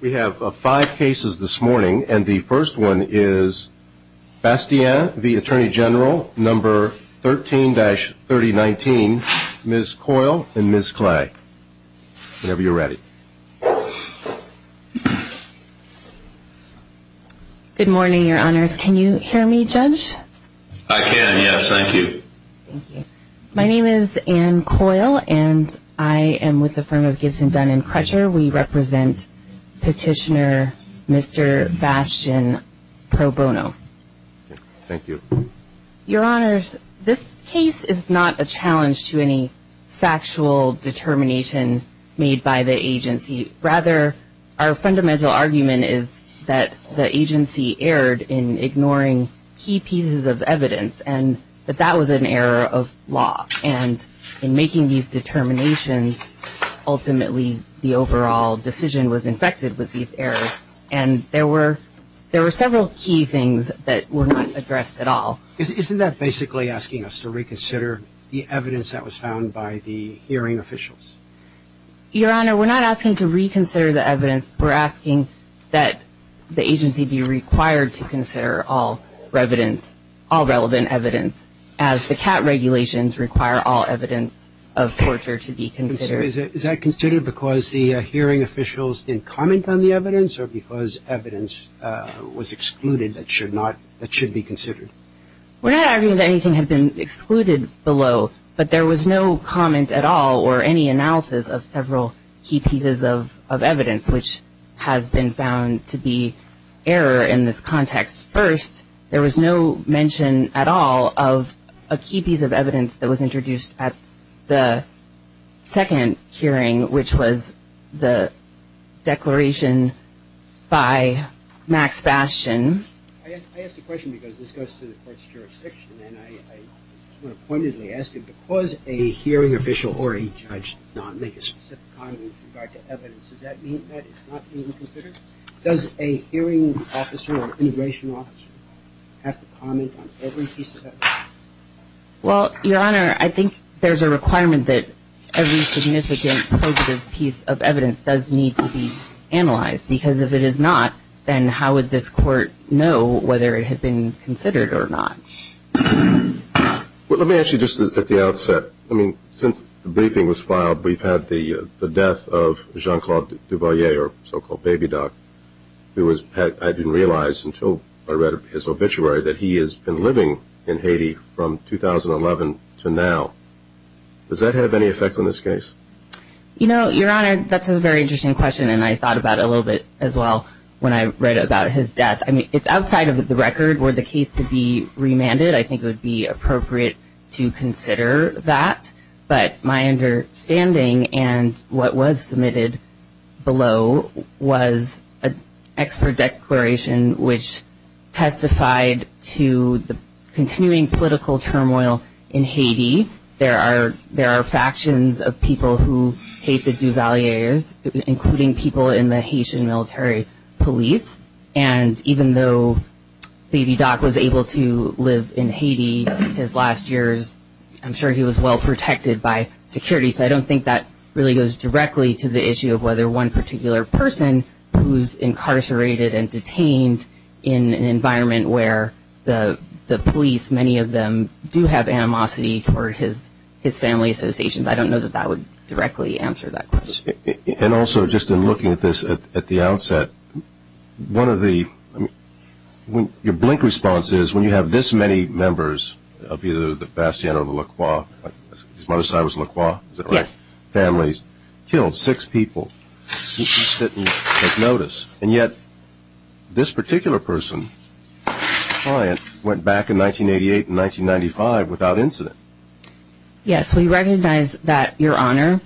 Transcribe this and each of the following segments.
We have five cases this morning and the first one is Bastien v. Attorney General No. 13-3019, Ms. Coyle and Ms. Clay. Whenever you're ready. Good morning, Your Honors. Can you hear me, Judge? Thank you. My name is Ann Coyle and I am with the firm of Gibson, Dunn & Crutcher. We represent Petitioner Mr. Bastien pro bono. Thank you. Your Honors, this case is not a challenge to any factual determination made by the agency. Rather, our fundamental argument is that the agency erred in ignoring key pieces of evidence and that that was an error of law. And in making these determinations, ultimately the overall decision was infected with these errors. And there were several key things that were not addressed at all. Isn't that basically asking us to reconsider the evidence that was found by the hearing officials? Your Honor, we're not asking to reconsider the evidence. We're asking that the agency be required to consider all relevant evidence as the CAT regulations require all evidence of torture to be considered. Is that considered because the hearing officials didn't comment on the evidence or because evidence was excluded that should be considered? We're not arguing that anything had been excluded below, but there was no comment at all or any analysis of several key pieces of evidence which has been found to be error in this context. First, there was no mention at all of a key piece of evidence that was introduced at the second hearing, which was the declaration by Max Bastien. I ask the question because this goes to the court's jurisdiction, and I want to pointedly ask you because a hearing official or a judge does not make a specific comment with regard to evidence, does that mean that it's not being considered? Does a hearing officer or an integration officer have to comment on every piece of evidence? Well, Your Honor, I think there's a requirement that every significant positive piece of evidence does need to be analyzed because if it is not, then how would this court know whether it had been considered or not? Well, let me ask you just at the outset. I mean, since the briefing was filed, we've had the death of Jean-Claude Duvalier, or so-called Baby Doc, who had been realized until I read his obituary that he has been living in Haiti from 2011 to now. Does that have any effect on this case? You know, Your Honor, that's a very interesting question, and I thought about it a little bit as well when I read about his death. I mean, it's outside of the record for the case to be remanded. I think it would be appropriate to consider that. But my understanding, and what was submitted below, was an expert declaration which testified to the continuing political turmoil in Haiti. There are factions of people who hate the Duvaliers, including people in the Haitian military police, and even though Baby Doc was able to live in Haiti his last years, I'm sure he was well protected by security. So I don't think that really goes directly to the issue of whether one particular person who's incarcerated and detained in an environment where the police, as many of them, do have animosity for his family associations. I don't know that that would directly answer that question. And also, just in looking at this at the outset, one of the – your blink response is when you have this many members of either the Bastien or the Lacroix – his mother's side was Lacroix, is that right? Yes. Families, killed six people. You sit and take notice. And yet, this particular person, client, went back in 1988 and 1995 without incident. Yes, we recognize that, Your Honor.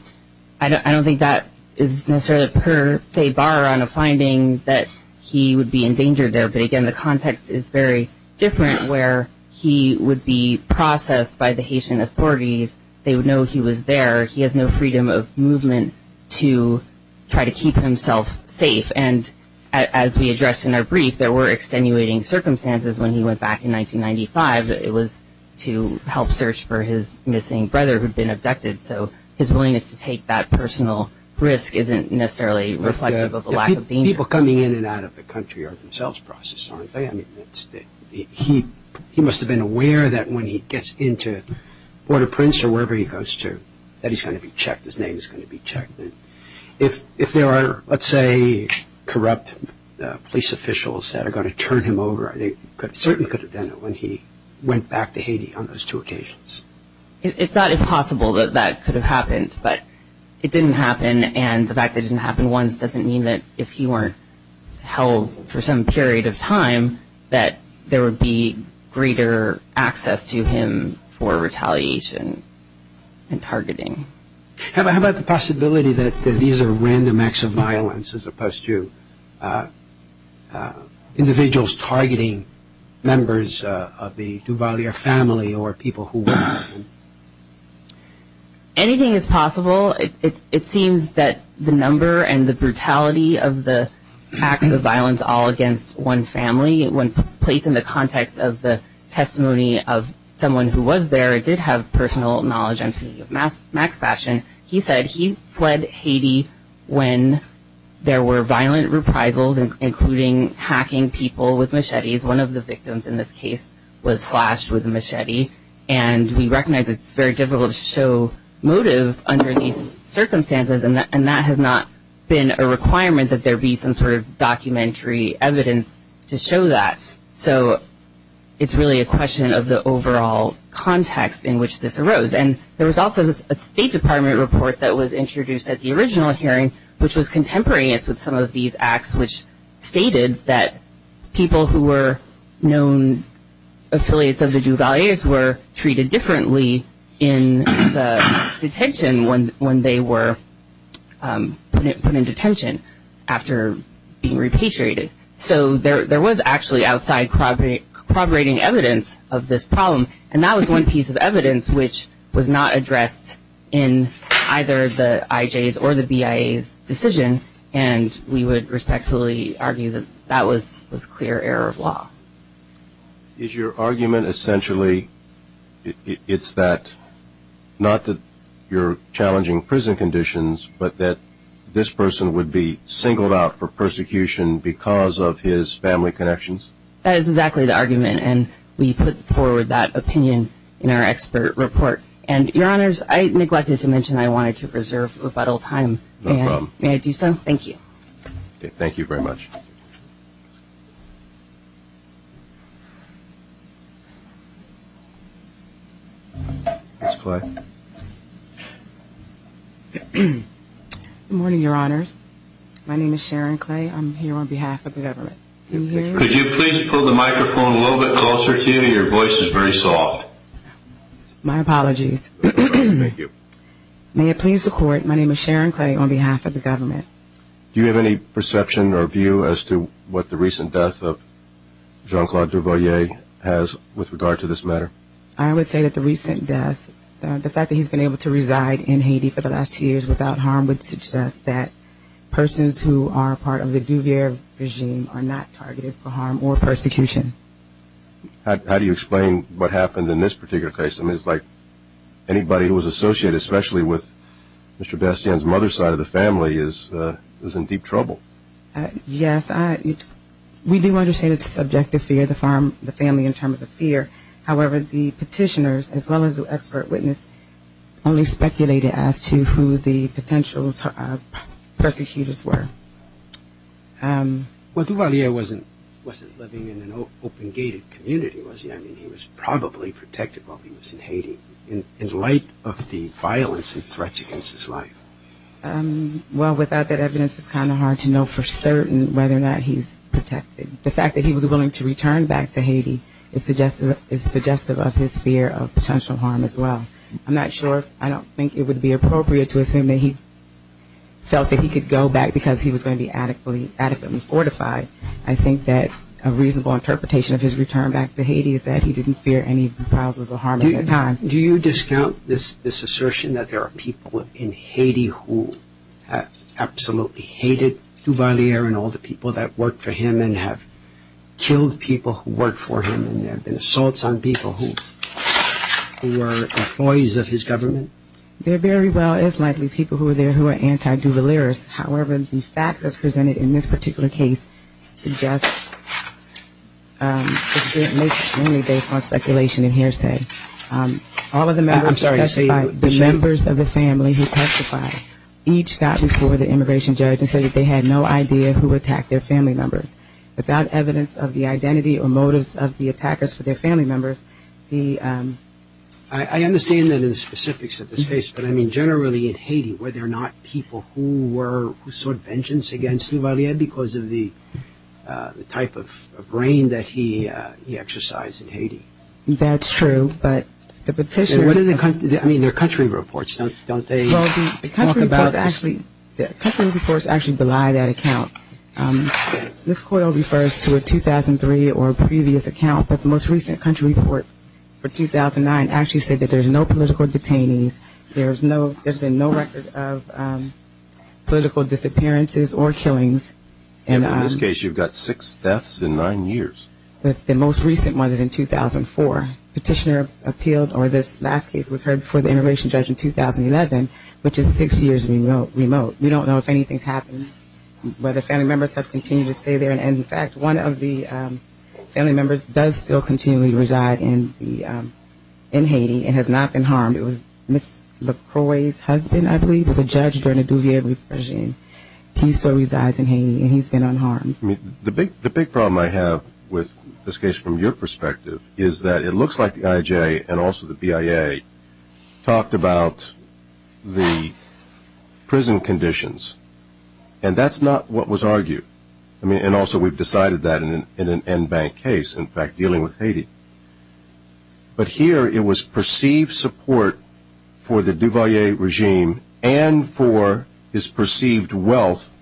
I don't think that is necessarily a per se borrow on a finding that he would be endangered there. But, again, the context is very different where he would be processed by the Haitian authorities. They would know he was there. He has no freedom of movement to try to keep himself safe. And as we addressed in our brief, there were extenuating circumstances when he went back in 1995. It was to help search for his missing brother who had been abducted. So his willingness to take that personal risk isn't necessarily reflective of a lack of danger. People coming in and out of the country are themselves processed, aren't they? He must have been aware that when he gets into Port-au-Prince or wherever he goes to, that he's going to be checked, his name is going to be checked. If there are, let's say, corrupt police officials that are going to turn him over, they certainly could have done it when he went back to Haiti on those two occasions. It's not impossible that that could have happened, but it didn't happen. And the fact that it didn't happen once doesn't mean that if he weren't held for some period of time, that there would be greater access to him for retaliation and targeting. How about the possibility that these are random acts of violence as opposed to individuals targeting members of the Duvalier family or people who were with him? Anything is possible. It seems that the number and the brutality of the acts of violence all against one family, when placed in the context of the testimony of someone who was there, did have personal knowledge. Max Fashion, he said he fled Haiti when there were violent reprisals, including hacking people with machetes. One of the victims in this case was slashed with a machete. And we recognize it's very difficult to show motive under these circumstances, and that has not been a requirement that there be some sort of documentary evidence to show that. So it's really a question of the overall context in which this arose. And there was also a State Department report that was introduced at the original hearing, which was contemporaneous with some of these acts, which stated that people who were known affiliates of the Duvaliers were treated differently in the detention when they were put in detention after being repatriated. So there was actually outside corroborating evidence of this problem, and that was one piece of evidence which was not addressed in either the IJ's or the BIA's decision, and we would respectfully argue that that was clear error of law. Is your argument essentially it's that, not that you're challenging prison conditions, but that this person would be singled out for persecution because of his family connections? That is exactly the argument, and we put forward that opinion in our expert report. And, Your Honors, I neglected to mention I wanted to reserve rebuttal time. No problem. May I do so? Thank you. Thank you very much. Ms. Clay. Good morning, Your Honors. My name is Sharon Clay. I'm here on behalf of the government. Can you hear me? Could you please pull the microphone a little bit closer to you? Your voice is very soft. My apologies. Thank you. May it please the Court, my name is Sharon Clay on behalf of the government. Do you have any perception or view as to what the recent death of Jean-Claude Duvalier has with regard to this matter? I would say that the recent death, the fact that he's been able to reside in Haiti for the last two years without harm would suggest that persons who are part of the Duvalier regime are not targeted for harm or persecution. How do you explain what happened in this particular case? I mean, it's like anybody who was associated, especially with Mr. Bastien's mother's side of the family, is in deep trouble. Yes, we do understand it's a subjective fear, the family in terms of fear. However, the petitioners as well as the expert witness only speculated as to who the potential persecutors were. Well, Duvalier wasn't living in an open-gated community, was he? I mean, he was probably protected while he was in Haiti. In light of the violence and threats against his life. Well, without that evidence, it's kind of hard to know for certain whether or not he's protected. The fact that he was willing to return back to Haiti is suggestive of his fear of potential harm as well. I'm not sure, I don't think it would be appropriate to assume that he felt that he could go back because he was going to be adequately fortified. I think that a reasonable interpretation of his return back to Haiti is that he didn't fear any proposals or harm at the time. Do you discount this assertion that there are people in Haiti who have absolutely hated Duvalier and all the people that worked for him and have killed people who worked for him and there have been assaults on people who were employees of his government? There very well is likely people who are there who are anti-Duvalierists. However, the facts as presented in this particular case suggest it's based on speculation and hearsay. All of the members of the family who testified each got before the immigration judge and said that they had no idea who attacked their family members. Without evidence of the identity or motives of the attackers for their family members. I understand the specifics of this case, but generally in Haiti, were there not people who sought vengeance against Duvalier because of the type of reign that he exercised in Haiti? That's true, but the petitioner I mean, there are country reports, don't they? The country reports actually belie that account. This quote refers to a 2003 or previous account, but the most recent country report for 2009 actually said that there's no political detainees. There's been no record of political disappearances or killings. In this case, you've got six deaths in nine years. The most recent one is in 2004. Petitioner appealed, or this last case was heard before the immigration judge in 2011, which is six years remote. We don't know if anything's happened, whether family members have continued to stay there. In fact, one of the family members does still continually reside in Haiti and has not been harmed. It was Ms. LaCroix's husband, I believe, who was a judge during the Duvalier repression. He still resides in Haiti, and he's been unharmed. The big problem I have with this case from your perspective is that it looks like the IJ and also the BIA talked about the prison conditions, and that's not what was argued. I mean, and also we've decided that in an en banc case, in fact, dealing with Haiti. But here it was perceived support for the Duvalier regime and for his perceived wealth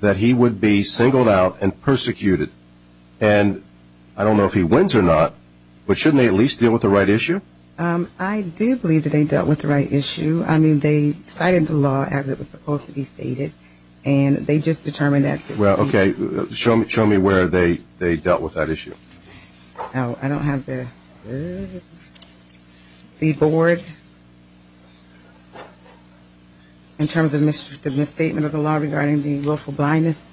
that he would be singled out and persecuted. And I don't know if he wins or not, but shouldn't they at least deal with the right issue? I do believe that they dealt with the right issue. I mean, they cited the law as it was supposed to be stated, and they just determined that. Well, okay. Show me where they dealt with that issue. I don't have the board in terms of the misstatement of the law regarding the willful blindness.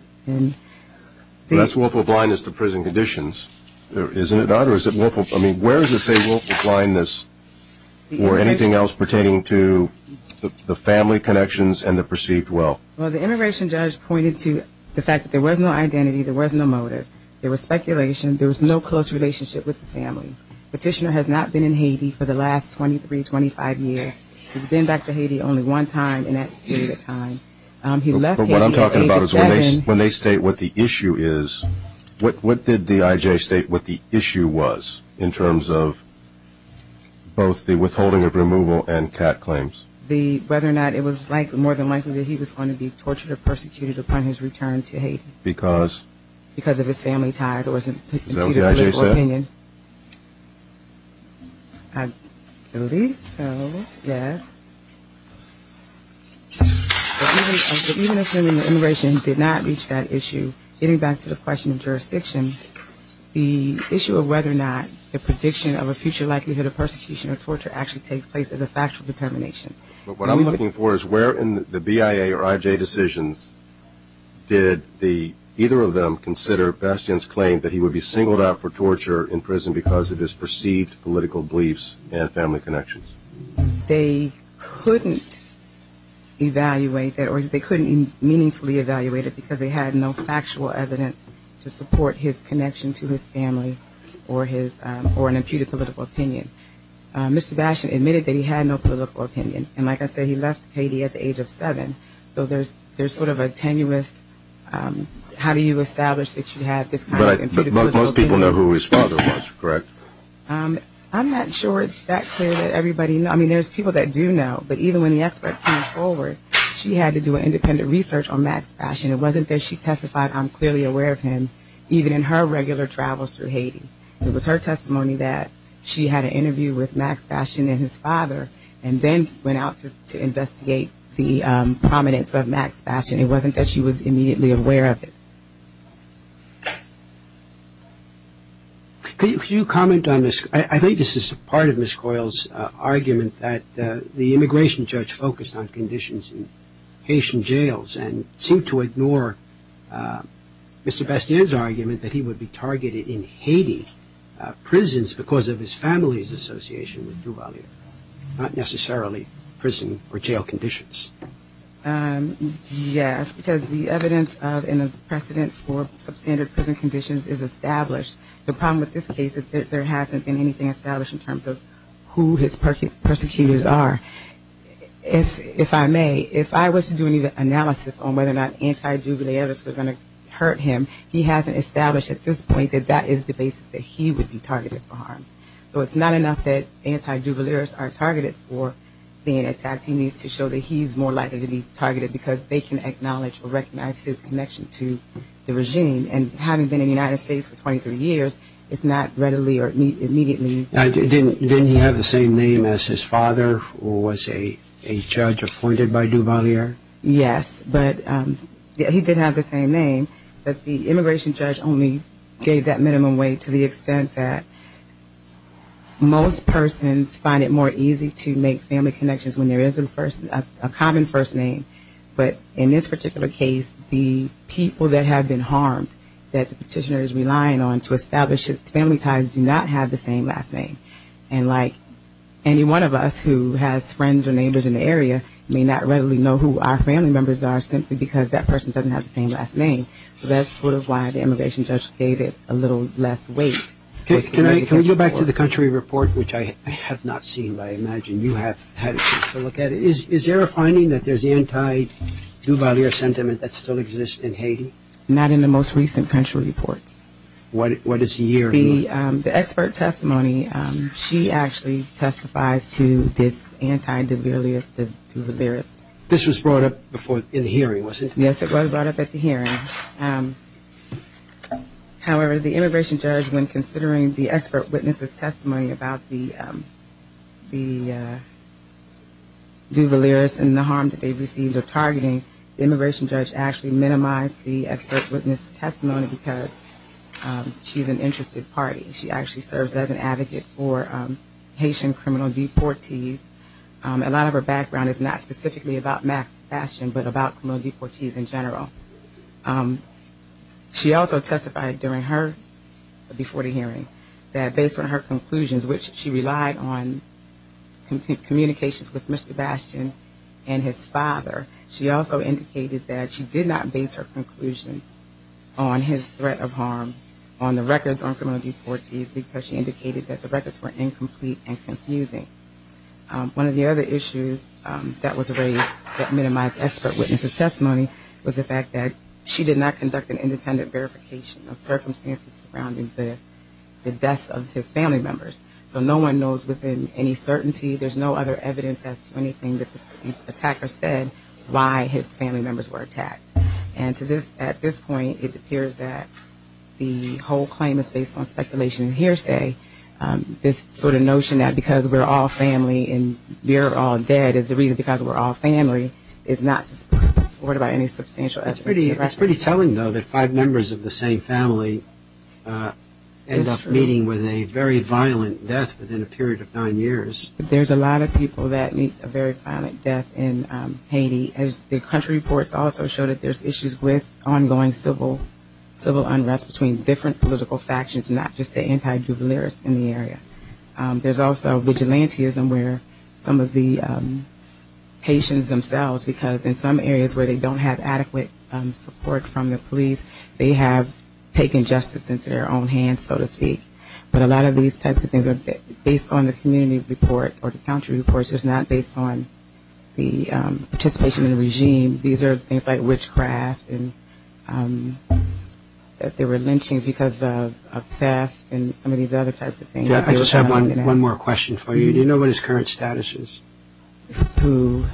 That's willful blindness to prison conditions, isn't it not? Or is it willful? I mean, where is the say willful blindness or anything else pertaining to the family connections and the perceived wealth? Well, the immigration judge pointed to the fact that there was no identity, there was no motive, there was speculation, there was no close relationship with the family. Petitioner has not been in Haiti for the last 23, 25 years. He's been back to Haiti only one time in that period of time. But what I'm talking about is when they state what the issue is, what did the I.J. state what the issue was in terms of both the withholding of removal and CAT claims? Whether or not it was more than likely that he was going to be tortured or persecuted upon his return to Haiti. Because? Because of his family ties. Is that what the I.J. said? In my opinion, I believe so, yes. But even assuming that immigration did not reach that issue, getting back to the question of jurisdiction, the issue of whether or not the prediction of a future likelihood of persecution or torture actually takes place is a factual determination. What I'm looking for is where in the BIA or I.J. decisions did either of them consider Bastien's claim that he would be singled out for torture in prison because of his perceived political beliefs and family connections? They couldn't evaluate that, or they couldn't meaningfully evaluate it, because they had no factual evidence to support his connection to his family or an imputed political opinion. Mr. Bastien admitted that he had no political opinion. And like I said, he left Haiti at the age of seven. So there's sort of a tenuous how do you establish that you have this kind of imputed political opinion? But most people know who his father was, correct? I'm not sure it's that clear that everybody knows. I mean, there's people that do know. But even when the expert came forward, she had to do an independent research on Max Bastien. It wasn't that she testified, I'm clearly aware of him, even in her regular travels through Haiti. It was her testimony that she had an interview with Max Bastien and his father and then went out to investigate the prominence of Max Bastien. It wasn't that she was immediately aware of it. Could you comment on this? I think this is part of Ms. Coyle's argument that the immigration judge focused on conditions in Haitian jails and seemed to ignore Mr. Bastien's argument that he would be targeted in Haiti prisons because of his family's association with Duvalier, not necessarily prison or jail conditions. Yes, because the evidence and the precedence for substandard prison conditions is established. The problem with this case is that there hasn't been anything established in terms of who his persecutors are. If I may, if I was to do any analysis on whether or not anti-Duvalier was going to hurt him, he hasn't established at this point that that is the basis that he would be targeted for harm. So it's not enough that anti-Duvaliers are targeted for being attacked. He needs to show that he's more likely to be targeted because they can acknowledge or recognize his connection to the regime. And having been in the United States for 23 years, it's not readily or immediately. Didn't he have the same name as his father or was a judge appointed by Duvalier? Yes, but he did have the same name, but the immigration judge only gave that minimum weight to the extent that most persons find it more easy to make family connections when there is a common first name. But in this particular case, the people that have been harmed that the petitioner is relying on to establish his family ties do not have the same last name. And like any one of us who has friends or neighbors in the area may not readily know who our family members are simply because that person doesn't have the same last name. So that's sort of why the immigration judge gave it a little less weight. Can I go back to the country report, which I have not seen, but I imagine you have had a chance to look at it. Is there a finding that there's anti-Duvalier sentiment that still exists in Haiti? Not in the most recent country reports. What is the year? The expert testimony, she actually testifies to this anti-Duvalier. This was brought up in the hearing, was it? However, the immigration judge, when considering the expert witness' testimony about the Duvaliers and the harm that they received of targeting, the immigration judge actually minimized the expert witness' testimony because she's an interested party. She actually serves as an advocate for Haitian criminal deportees. A lot of her background is not specifically about Max Bastion, but about criminal deportees in general. She also testified during her, before the hearing, that based on her conclusions, which she relied on communications with Mr. Bastion and his father, she also indicated that she did not base her conclusions on his threat of harm, on the records on criminal deportees because she indicated that the records were incomplete and confusing. One of the other issues that was raised that minimized expert witness' testimony was the fact that she did not conduct an independent verification of circumstances surrounding the deaths of his family members. So no one knows within any certainty, there's no other evidence as to anything that the attacker said, why his family members were attacked. And at this point, it appears that the whole claim is based on speculation and hearsay. This sort of notion that because we're all family and we're all dead is the reason because we're all family is not supported by any substantial evidence. It's pretty telling, though, that five members of the same family end up meeting with a very violent death within a period of nine years. There's a lot of people that meet a very violent death in Haiti. The country reports also show that there's issues with ongoing civil unrest between different political factions, not just the anti-Jubilees in the area. There's also vigilantism where some of the Haitians themselves, because in some areas where they don't have adequate support from the police, they have taken justice into their own hands, so to speak. But a lot of these types of things are based on the community report or the country reports. It's not based on the participation in the regime. These are things like witchcraft and that there were lynchings because of theft and some of these other types of things. I just have one more question for you. Do you know what his current status is? No,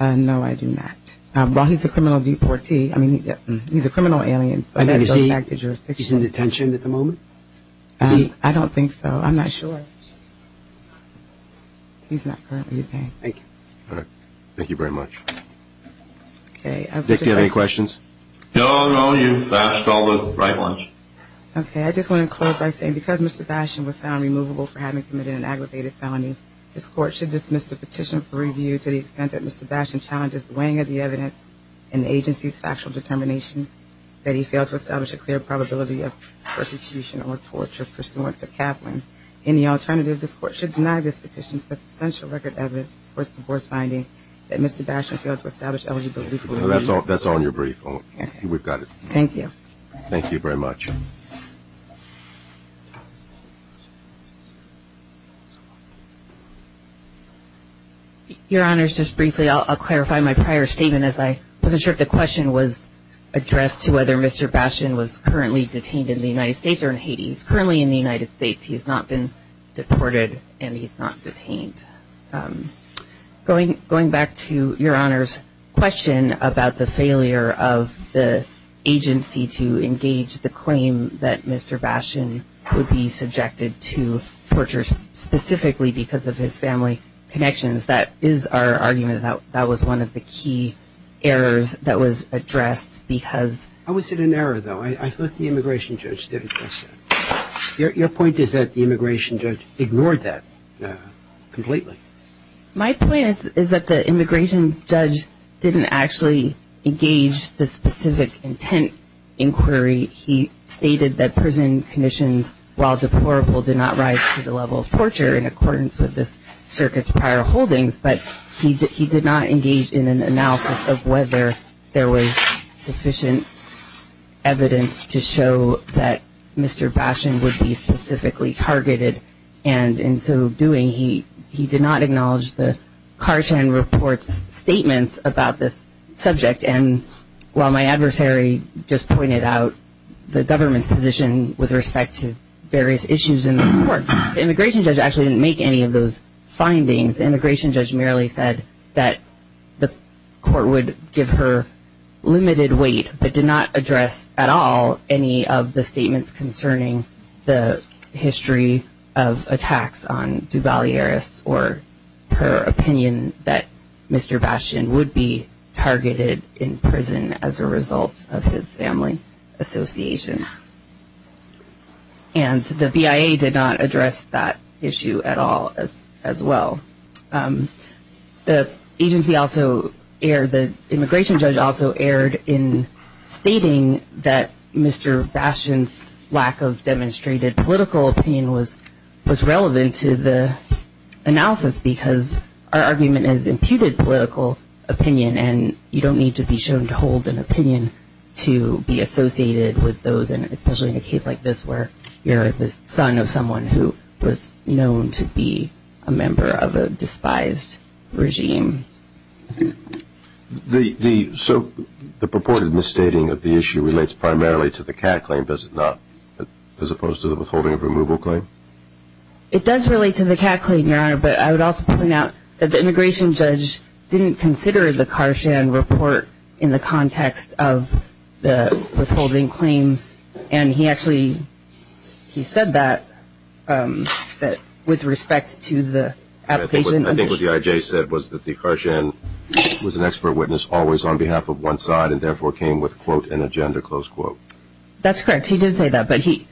I do not. Well, he's a criminal deportee. I mean, he's a criminal alien. Is he in detention at the moment? I don't think so. I'm not sure. He's not currently detained. Thank you very much. Dick, do you have any questions? No, no, you've asked all the right ones. Okay, I just want to close by saying because Mr. Basham was found removable for having committed an aggravated felony, this Court should dismiss the petition for review to the extent that Mr. Basham challenges the weighing of the evidence and the agency's factual determination that he failed to establish a clear probability of persecution or torture pursuant to Kaplan. Any alternative, this Court should deny this petition for substantial record evidence or divorce finding that Mr. Basham failed to establish a clear probability of persecution or torture. Thank you very much. Your Honor, just briefly, I'll clarify my prior statement as I wasn't sure if the question was addressed to whether Mr. Basham was currently detained in the United States or in Hades. Currently in the United States, he's not been deported and he's not detained. Going back to Your Honor's question about the failure of the agency to engage the claim that Mr. Basham would be subjected to torture specifically because of his family connections, that is our argument that that was one of the key errors that was addressed because ---- How is it an error, though? I thought the immigration judge did address that. Your point is that the immigration judge ignored that completely. My point is that the immigration judge didn't actually engage the specific intent inquiry. He stated that prison conditions, while deplorable, did not rise to the level of torture in accordance with the circuit's prior holdings, but he did not engage in an analysis of whether there was sufficient evidence to show that Mr. Basham would be specifically targeted. And in so doing, he did not acknowledge the Carson Report's statements about this subject. And while my adversary just pointed out the government's position with respect to various issues in the court, the immigration judge actually didn't make any of those findings. The immigration judge merely said that the court would give her limited weight, but did not address at all any of the statements concerning the history of attacks on Duvalieris or her opinion that Mr. Basham would be targeted in prison as a result of his family associations. And the BIA did not address that issue at all as well. The agency also, the immigration judge also erred in stating that Mr. Basham's lack of demonstrated political opinion was relevant to the analysis, because our argument is imputed political opinion, and you don't need to be shown to hold an opinion to be associated with those, and especially in a case like this where you're the son of someone who was known to be a member of a family association. You don't need to be shown to hold an opinion to be associated with the despised regime. So the purported misstating of the issue relates primarily to the CAC claim, does it not, as opposed to the withholding of removal claim? It does relate to the CAC claim, Your Honor, but I would also point out that the immigration judge didn't consider the Carson Report in the context of the withholding claim, and he actually said that with respect to the application. I think what the IJ said was that the Carson was an expert witness always on behalf of one side and therefore came with, quote, an agenda, close quote. That's correct, he did say that, but he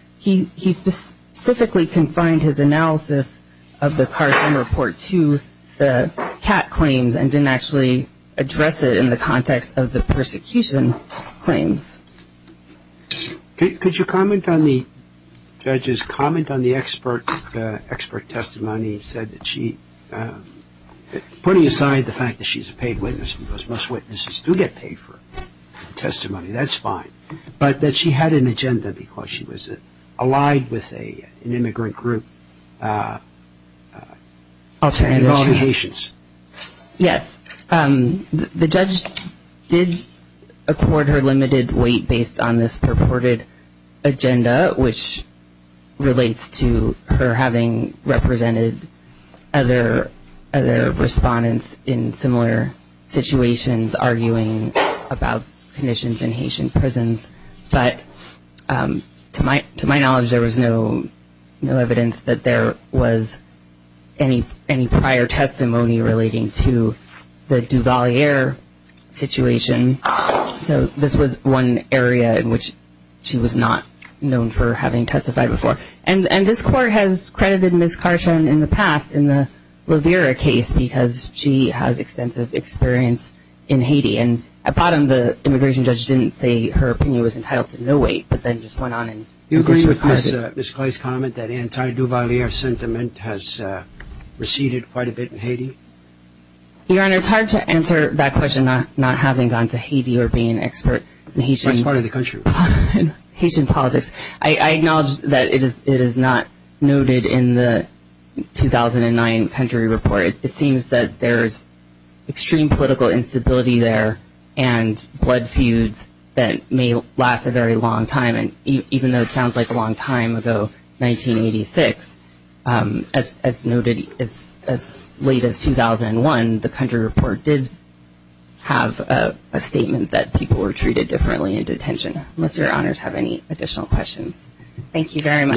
specifically confined his analysis of the Carson Report to the CAC claims and didn't actually address it in the context of the persecution claims. Could you comment on the judge's comment on the expert testimony? He said that she, putting aside the fact that she's a paid witness, because most witnesses do get paid for testimony, that's fine, but that she had an agenda because she was allied with an immigrant group. Yes, the judge did accord her limited weight based on this purported misstatement and agenda, which relates to her having represented other respondents in similar situations arguing about conditions in Haitian prisons, but to my knowledge there was no evidence that there was any prior testimony relating to the Duvalier situation. So this was one area in which she was not known for having testified before. And this Court has credited Ms. Carson in the past in the Levera case because she has extensive experience in Haiti. And at the bottom the immigration judge didn't say her opinion was entitled to no weight, but then just went on and disregarded it. Do you think that anti-Duvalier sentiment has receded quite a bit in Haiti? Your Honor, it's hard to answer that question not having gone to Haiti or being an expert in Haitian politics. What part of the country? I acknowledge that it is not noted in the 2009 country report. It seems that there is extreme political instability there and blood feuds that may last a very long time, and even though it sounds like a long time ago, 1986, as noted as late as 2001, the country report did have a statement that people were treated differently in detention. Unless Your Honors have any additional questions. Thank you very much.